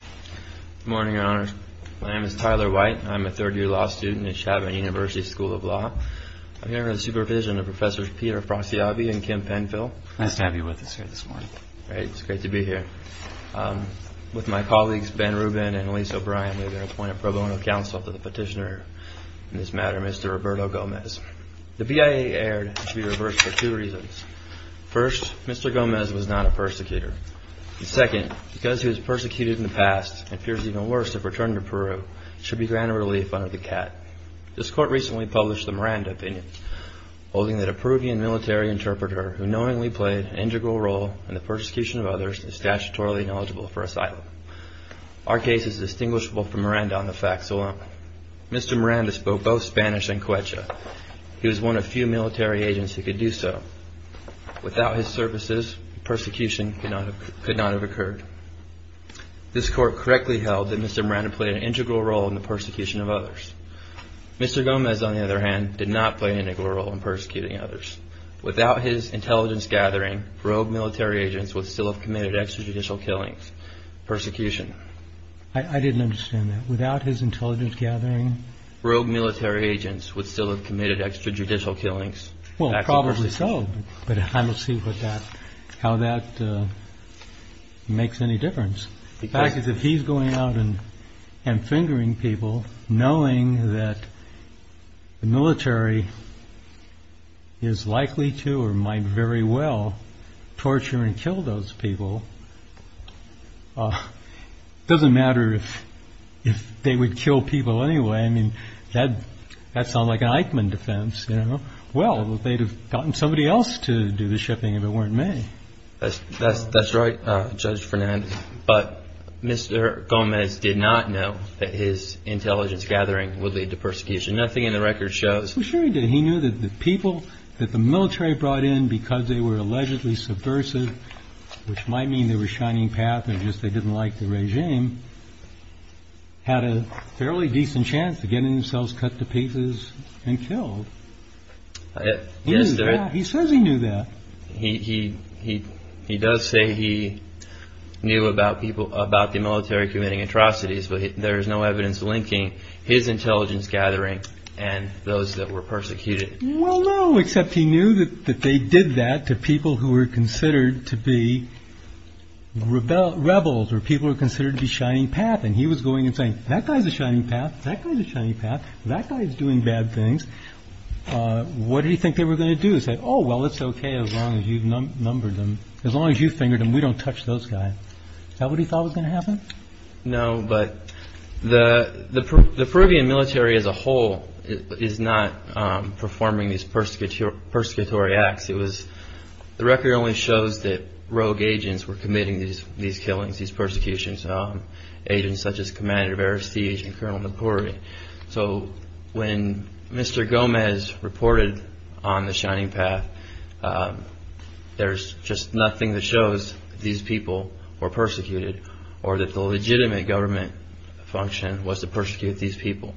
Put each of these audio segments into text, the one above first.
Good morning, your honors. My name is Tyler White. I'm a third-year law student at Chabot University School of Law. I'm here under the supervision of Professors Peter Frasiabi and Kim Penfill. Nice to have you with us here this morning. Great. It's great to be here. With my colleagues Ben Rubin and Elyse O'Brien, we have appointed pro bono counsel to the petitioner in this matter, Mr. Roberto Gomez. The BIA error should be reversed for two reasons. First, Mr. Gomez was not a persecutor. Second, because he was persecuted in the past, and appears even worse if returned to Peru, should be granted relief under the CAT. This court recently published the Miranda opinion, holding that a Peruvian military interpreter who knowingly played an integral role in the persecution of others is statutorily knowledgeable for asylum. Our case is distinguishable from Miranda on the facts alone. Mr. Miranda spoke both Spanish and Quechua. He was one of few military agents who could do so. Without his services, persecution could not have occurred. This court correctly held that Mr. Miranda played an integral role in the persecution of others. Mr. Gomez, on the other hand, did not play an integral role in persecuting others. Without his intelligence gathering, rogue military agents would still have committed extrajudicial killings. Persecution. I didn't understand that. Without his intelligence gathering? Rogue military agents would still have committed extrajudicial killings. Well, probably so, but I don't see how that makes any difference. The fact is, if he's going out and fingering people, knowing that the military is likely to or might very well torture and kill those people, it doesn't matter if they would kill people anyway. I mean, that sounds like an Eichmann defense. Well, they'd have gotten somebody else to do the shipping if it weren't me. That's right, Judge Fernand. But Mr. Gomez did not know that his intelligence gathering would lead to persecution. Nothing in the record shows. Well, sure he did. He knew that the people that the military brought in because they were allegedly subversive, which might mean they were shining path and just they didn't like the regime, had a fairly decent chance to get themselves cut to pieces and killed. Yes. He says he knew that he he he does say he knew about people about the military committing atrocities. But there is no evidence linking his intelligence gathering and those that were persecuted. Well, no, except he knew that they did that to people who were considered to be rebels, rebels or people who are considered to be shining path. And he was going and saying, that guy is a shining path. That kind of shiny path. That guy is doing bad things. What do you think they were going to do? Oh, well, it's OK. As long as you've numbered them, as long as you fingered and we don't touch those guys. Nobody thought was going to happen. No. But the the the Peruvian military as a whole is not performing these persecuted persecutory acts. It was the record only shows that rogue agents were committing these these killings, these persecutions. Agents such as Commander of Arrestees and Colonel Napuri. So when Mr. Gomez reported on the shining path, there's just nothing that shows these people were persecuted or that the legitimate government function was to persecute these people.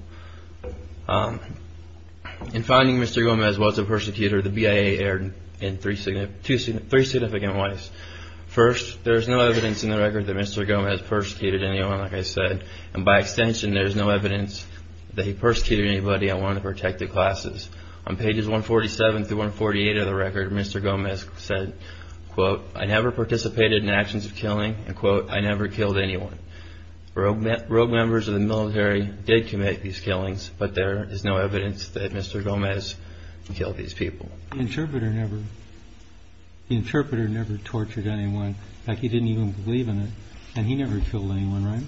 In finding Mr. Gomez was a persecutor, the BIA erred in three significant ways. First, there's no evidence in the record that Mr. Gomez persecuted anyone, like I said. And by extension, there's no evidence that he persecuted anybody. I want to protect the classes on pages 147 through 148 of the record. Mr. Gomez said, quote, I never participated in actions of killing and quote, I never killed anyone. Rogue members of the military did commit these killings. But there is no evidence that Mr. Gomez killed these people. Interpreter never. Interpreter never tortured anyone like he didn't even believe in it. And he never killed anyone.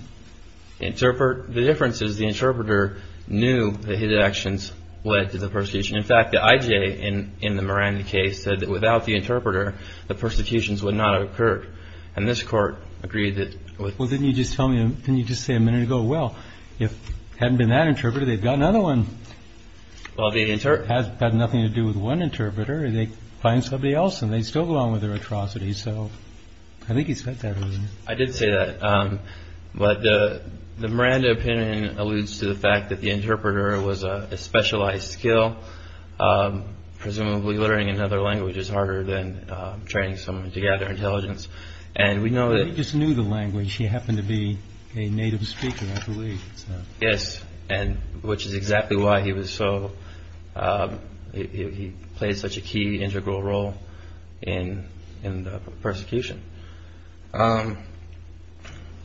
Interpret the differences. The interpreter knew that his actions led to the persecution. In fact, the IJ in in the Miranda case said that without the interpreter, the persecutions would not have occurred. And this court agreed that. Well, then you just tell me. Can you just say a minute ago? Well, if hadn't been that interpreter, they've got another one. Well, the answer has had nothing to do with one interpreter. They find somebody else and they still go on with their atrocities. So I think he said that. I did say that. But the Miranda opinion alludes to the fact that the interpreter was a specialized skill, presumably learning another language is harder than training someone to gather intelligence. And we know that he just knew the language. He happened to be a native speaker, I believe. Yes. And which is exactly why he was so he played such a key integral role in in the persecution.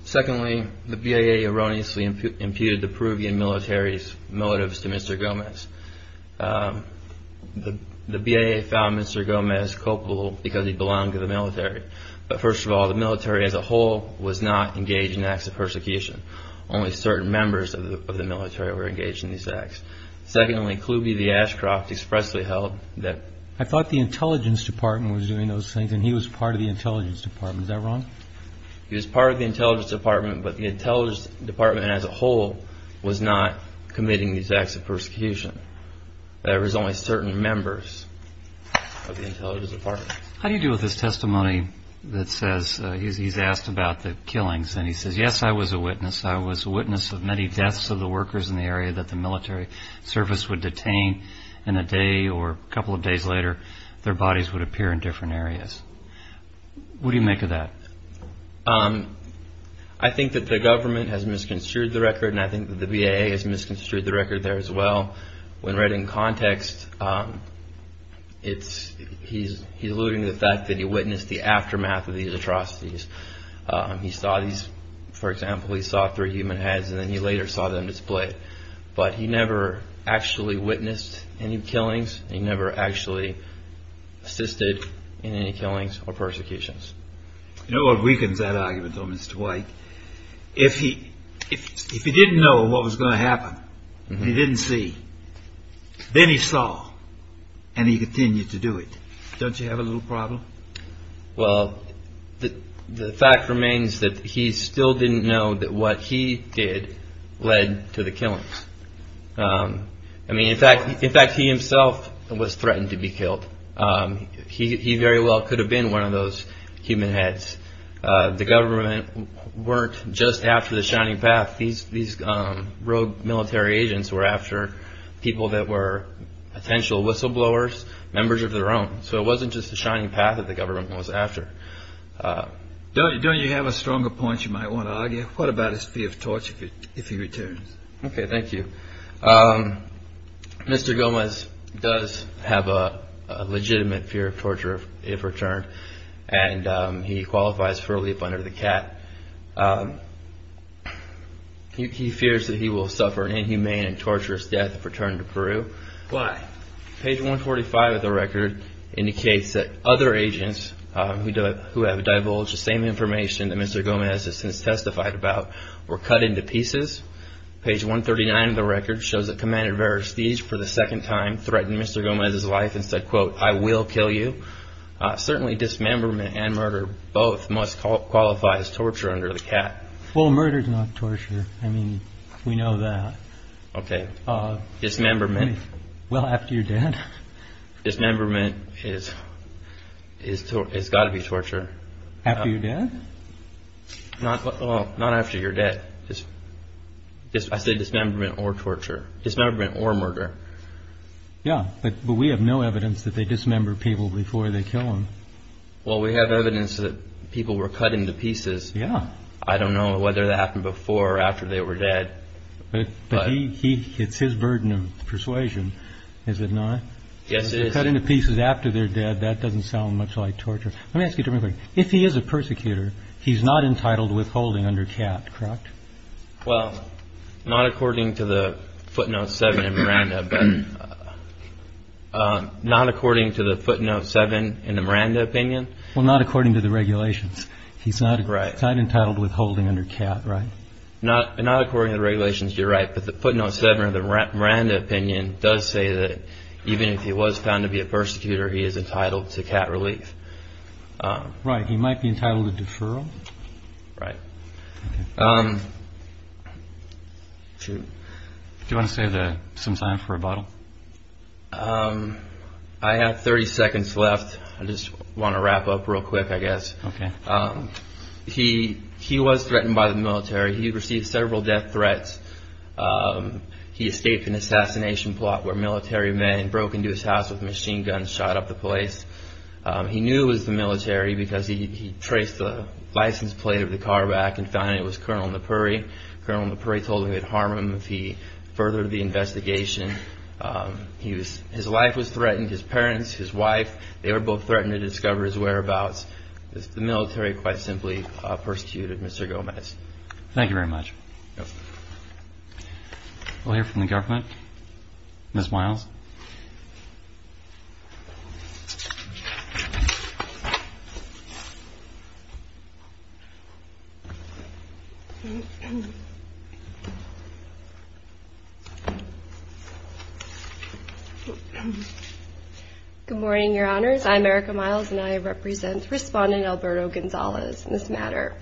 Secondly, the BIA erroneously imputed the Peruvian military's motives to Mr. Gomez. The BIA found Mr. Gomez culpable because he belonged to the military. But first of all, the military as a whole was not engaged in acts of persecution. Only certain members of the military were engaged in these acts. Secondly, Kluge, the Ashcroft expressly held that I thought the intelligence department was doing those things. And he was part of the intelligence department. Is that wrong? He was part of the intelligence department, but the intelligence department as a whole was not committing these acts of persecution. There was only certain members of the intelligence department. How do you deal with this testimony that says he's asked about the killings and he says, yes, I was a witness. I was a witness of many deaths of the workers in the area that the military service would detain in a day or a couple of days later. Their bodies would appear in different areas. What do you make of that? I think that the government has misconstrued the record and I think the BIA has misconstrued the record there as well. When read in context, it's he's he's alluding to the fact that he witnessed the aftermath of these atrocities. He saw these, for example, he saw three human heads and then he later saw them displayed. But he never actually witnessed any killings. He never actually assisted in any killings or persecutions. You know what weakens that argument, though, Mr. White? If he if he didn't know what was going to happen and he didn't see, then he saw and he continued to do it. Don't you have a little problem? Well, the fact remains that he still didn't know that what he did led to the killings. I mean, in fact, in fact, he himself was threatened to be killed. He very well could have been one of those human heads. The government weren't just after the shining path. These these rogue military agents were after people that were potential whistleblowers, members of their own. So it wasn't just the shining path that the government was after. Don't you don't you have a stronger point you might want to argue? What about his fear of torture if he returns? OK, thank you. Mr. Gomez does have a legitimate fear of torture if returned and he qualifies for a leap under the cat. He fears that he will suffer an inhumane and torturous death if returned to Peru. Why? Page 145 of the record indicates that other agents who have divulged the same information that Mr. Gomez has since testified about were cut into pieces. Page 139 of the record shows that Commander Versteeg for the second time threatened Mr. Gomez's life and said, quote, I will kill you. Certainly dismemberment and murder both must qualify as torture under the cat. Well, murder is not torture. I mean, we know that. OK. Dismemberment. Well, after you're dead, dismemberment is is it's got to be torture after you're dead. Not after you're dead. I said dismemberment or torture, dismemberment or murder. Yeah. But we have no evidence that they dismember people before they kill them. Well, we have evidence that people were cutting the pieces. Yeah. I don't know whether that happened before or after they were dead. But he he it's his burden of persuasion, is it not? Yes, it is. Cut into pieces after they're dead. That doesn't sound much like torture. Let me ask you. If he is a persecutor, he's not entitled withholding under cat. Correct. Well, not according to the footnote seven and Miranda, but not according to the footnote seven in the Miranda opinion. Well, not according to the regulations. He's not right. Entitled withholding under cat. Right. Not not according to the regulations. You're right. But the footnote seven of the Miranda opinion does say that even if he was found to be a persecutor, he is entitled to cat relief. Right. He might be entitled to deferral. Right. Do you want to say that sometime for a bottle? I have 30 seconds left. I just want to wrap up real quick, I guess. OK. He he was threatened by the military. He received several death threats. He escaped an assassination plot where military men broke into his house with machine guns, shot up the place. He knew it was the military because he traced the license plate of the car back and found it was Colonel Napuri. Colonel Napuri told him he'd harm him if he furthered the investigation. He was his life was threatened. His parents, his wife, they were both threatened to discover his whereabouts. The military quite simply persecuted Mr. Gomez. Thank you very much. We'll hear from the government. Miss Miles. Good morning, Your Honors. I'm Erica Miles and I represent Respondent Alberto Gonzalez in this matter.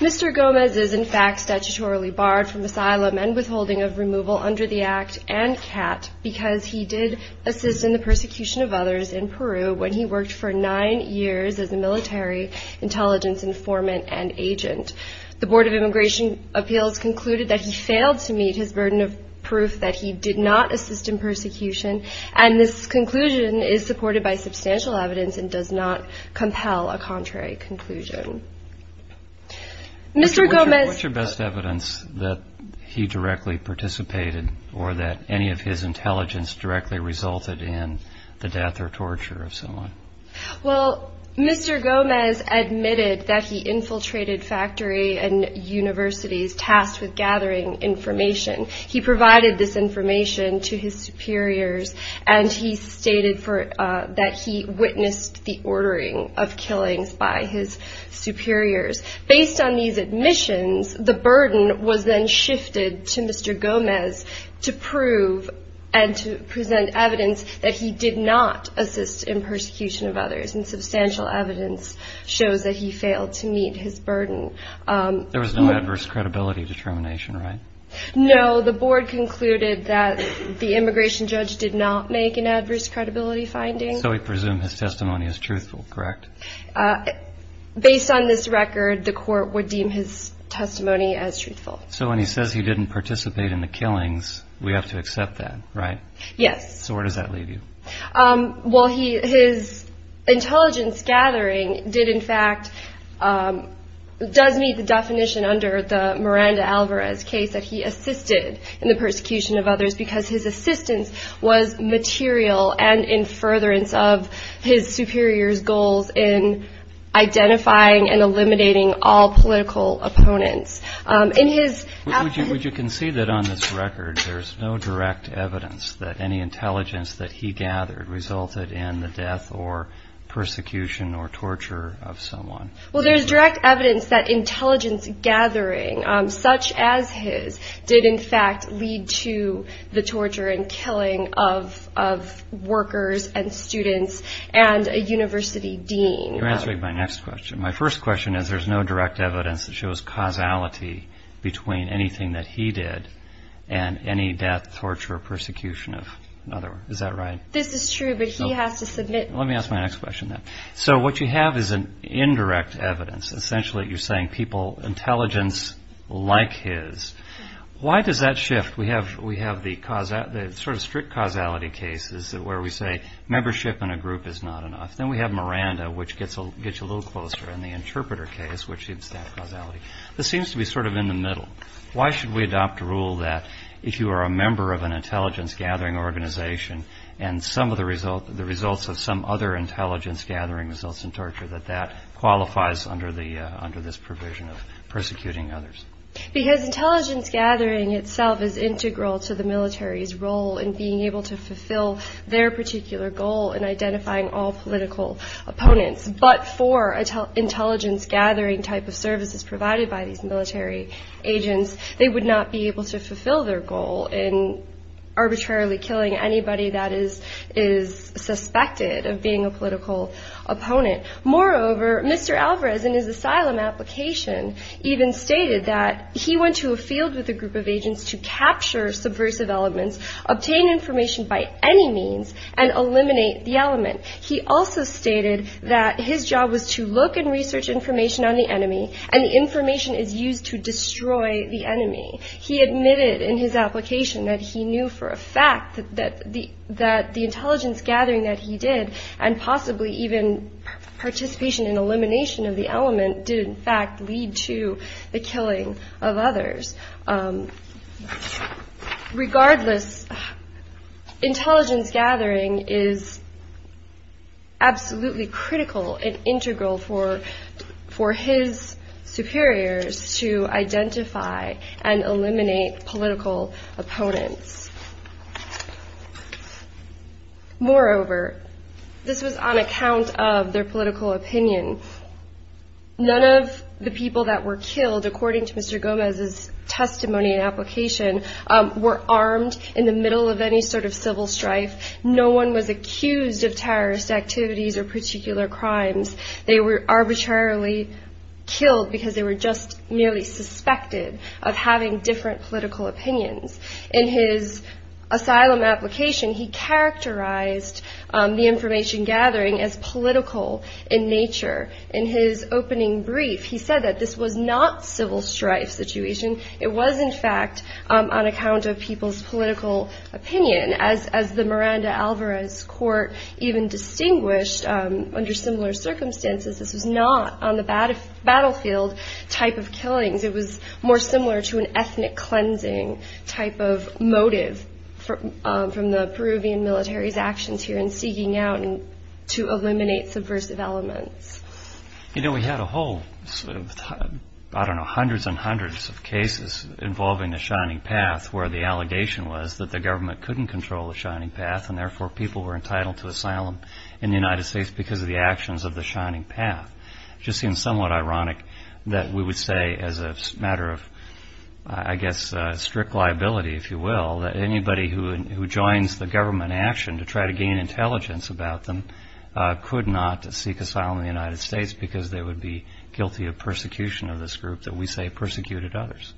Mr. Gomez is in fact statutorily barred from asylum and withholding of removal under the act and cat because he did assist in the persecution of others in Peru when he worked for nine years as a military intelligence informant and agent. The Board of Immigration Appeals concluded that he failed to meet his burden of proof that he did not assist in persecution. And this conclusion is supported by substantial evidence and does not compel a contrary conclusion. Mr. Gomez, what's your best evidence that he directly participated or that any of his intelligence directly resulted in the death or torture of someone? Well, Mr. Gomez admitted that he infiltrated factory and universities tasked with gathering information. He provided this information to his superiors and he stated that he witnessed the ordering of killings by his superiors. Based on these admissions, the burden was then shifted to Mr. Gomez to prove and to present evidence that he did not assist in persecution of others. And substantial evidence shows that he failed to meet his burden. There was no adverse credibility determination, right? No, the board concluded that the immigration judge did not make an adverse credibility finding. So we presume his testimony is truthful, correct? Based on this record, the court would deem his testimony as truthful. So when he says he didn't participate in the killings, we have to accept that, right? Yes. So where does that leave you? Well, his intelligence gathering did in fact, does meet the definition under the Miranda Alvarez case that he assisted in the persecution of others because his assistance was material and in furtherance of his superior's goals in identifying and eliminating all political opponents. Would you concede that on this record, there's no direct evidence that any intelligence that he gathered resulted in the death or persecution or torture of someone? Well, there's direct evidence that intelligence gathering such as his did in fact lead to the torture and killing of workers and students and a university dean. You're answering my next question. My first question is there's no direct evidence that shows causality between anything that he did and any death, torture or persecution of another. Is that right? This is true, but he has to submit. Let me ask my next question then. So what you have is an indirect evidence. Essentially, you're saying people, intelligence like his. Why does that shift? We have the sort of strict causality cases where we say membership in a group is not enough. Then we have Miranda, which gets a little closer and the interpreter case, which is that causality. This seems to be sort of in the middle. Why should we adopt a rule that if you are a member of an intelligence gathering organization and the results of some other intelligence gathering results in torture, that that qualifies under this provision of persecuting others? Because intelligence gathering itself is integral to the military's role in being able to fulfill their particular goal in identifying all political opponents. But for intelligence gathering type of services provided by these military agents, they would not be able to fulfill their goal in arbitrarily killing anybody that is suspected of being a political opponent. Moreover, Mr. Alvarez in his asylum application even stated that he went to a field with a group of agents to capture subversive elements, obtain information by any means and eliminate the element. He also stated that his job was to look and research information on the enemy and the information is used to destroy the enemy. He admitted in his application that he knew for a fact that the intelligence gathering that he did and possibly even participation in elimination of the element did in fact lead to the killing of others. Regardless, intelligence gathering is absolutely critical and integral for his superiors to identify and eliminate political opponents. Moreover, this was on account of their political opinion. None of the people that were killed, according to Mr. Gomez's testimony and application, were armed in the middle of any sort of civil strife. No one was accused of terrorist activities or particular crimes. They were arbitrarily killed because they were just merely suspected of having different political opinions. In his asylum application, he characterized the information gathering as political in nature. In his opening brief, he said that this was not civil strife situation. It was in fact on account of people's political opinion, as the Miranda Alvarez court even distinguished under similar circumstances. This was not on the battlefield type of killings. It was more similar to an ethnic cleansing type of motive from the Peruvian military's actions here in seeking out and to eliminate subversive elements. You know, we had a whole, I don't know, hundreds and hundreds of cases involving the Shining Path, where the allegation was that the government couldn't control the Shining Path, and therefore people were entitled to asylum in the United States because of the actions of the Shining Path. It just seems somewhat ironic that we would say as a matter of, I guess, strict liability, if you will, that anybody who joins the government action to try to gain intelligence about them could not seek asylum in the United States, because they would be guilty of persecution of this group that we say persecuted others.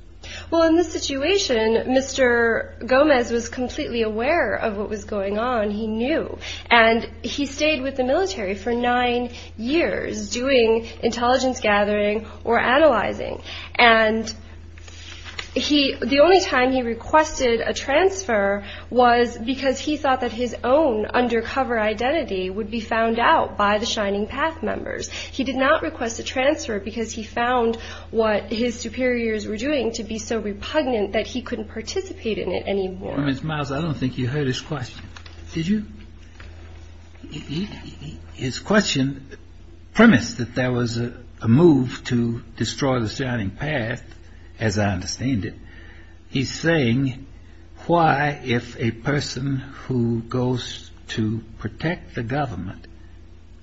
Well, in this situation, Mr. Gomez was completely aware of what was going on, he knew. And he stayed with the military for nine years doing intelligence gathering or analyzing. And the only time he requested a transfer was because he thought that his own undercover identity would be found out by the Shining Path members. He did not request a transfer because he found what his superiors were doing to be so repugnant that he couldn't participate in it anymore. Ms. Miles, I don't think you heard his question. Did you? His question premised that there was a move to destroy the Shining Path, as I understand it. He's saying why, if a person who goes to protect the government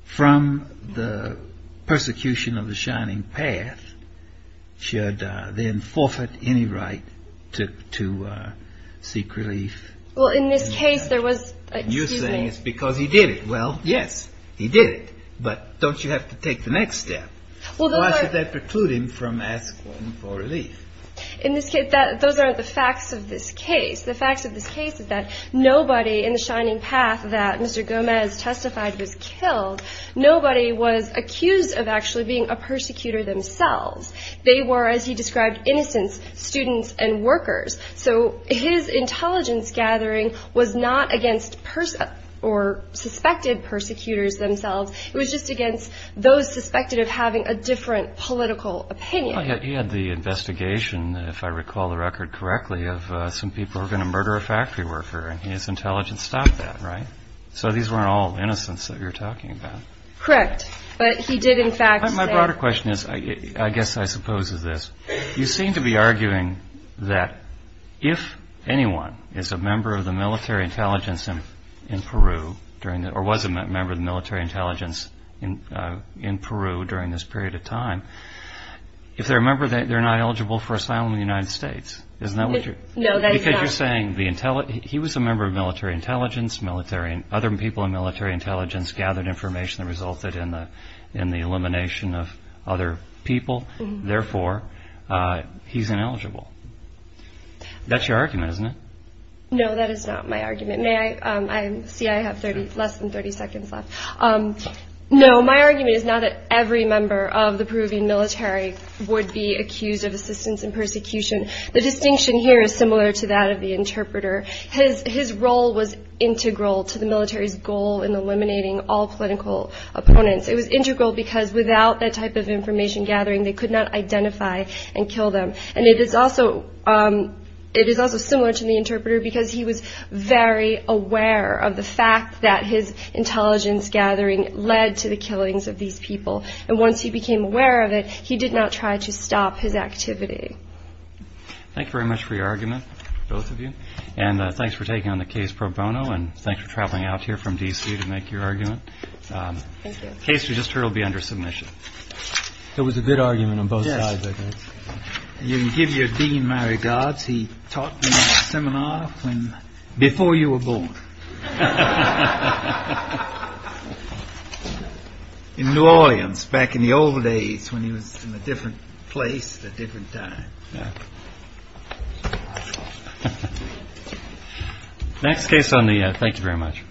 from the Shining Path, for persecution of the Shining Path, should then forfeit any right to seek relief? Well, in this case, there was... You're saying it's because he did it. Well, yes, he did it. But don't you have to take the next step? Why should that preclude him from asking for relief? Those aren't the facts of this case. The facts of this case is that nobody in the Shining Path that Mr. Gomez testified was killed, nobody was accused of actually being a persecutor themselves. They were, as he described, innocents, students, and workers. So his intelligence gathering was not against suspected persecutors themselves. It was just against those suspected of having a different political opinion. He had the investigation, if I recall the record correctly, of some people who were going to murder a factory worker, and his intelligence stopped that, right? So these weren't all innocents that you're talking about. Correct. But he did in fact say... My broader question is, I guess I suppose is this, you seem to be arguing that if anyone is a member of the military intelligence in Peru, or was a member of the military intelligence in Peru during this period of time, if they're a member, they're not eligible for asylum in the United States, isn't that what you're... No, that is not. Because you're saying he was a member of military intelligence, other people in military intelligence gathered information that resulted in the elimination of other people, therefore he's ineligible. That's your argument, isn't it? No, my argument is not that every member of the Peruvian military would be accused of assistance in persecution. The distinction here is similar to that of the interpreter. His role was integral to the military's goal in eliminating all political opponents. It was integral because without that type of information gathering, they could not identify and kill them. And it is also similar to the interpreter because he was very aware of the fact that his intelligence gathering led to the killings of these people. And once he became aware of it, he did not try to stop his activity. Thank you very much for your argument, both of you. And thanks for taking on the case pro bono, and thanks for traveling out here from D.C. to make your argument. The case we just heard will be under submission. It was a good argument on both sides, I guess. You can give your dean my regards. He taught me in a seminar before you were born in New Orleans back in the old days when he was in a different place at a different time. Thank you very much.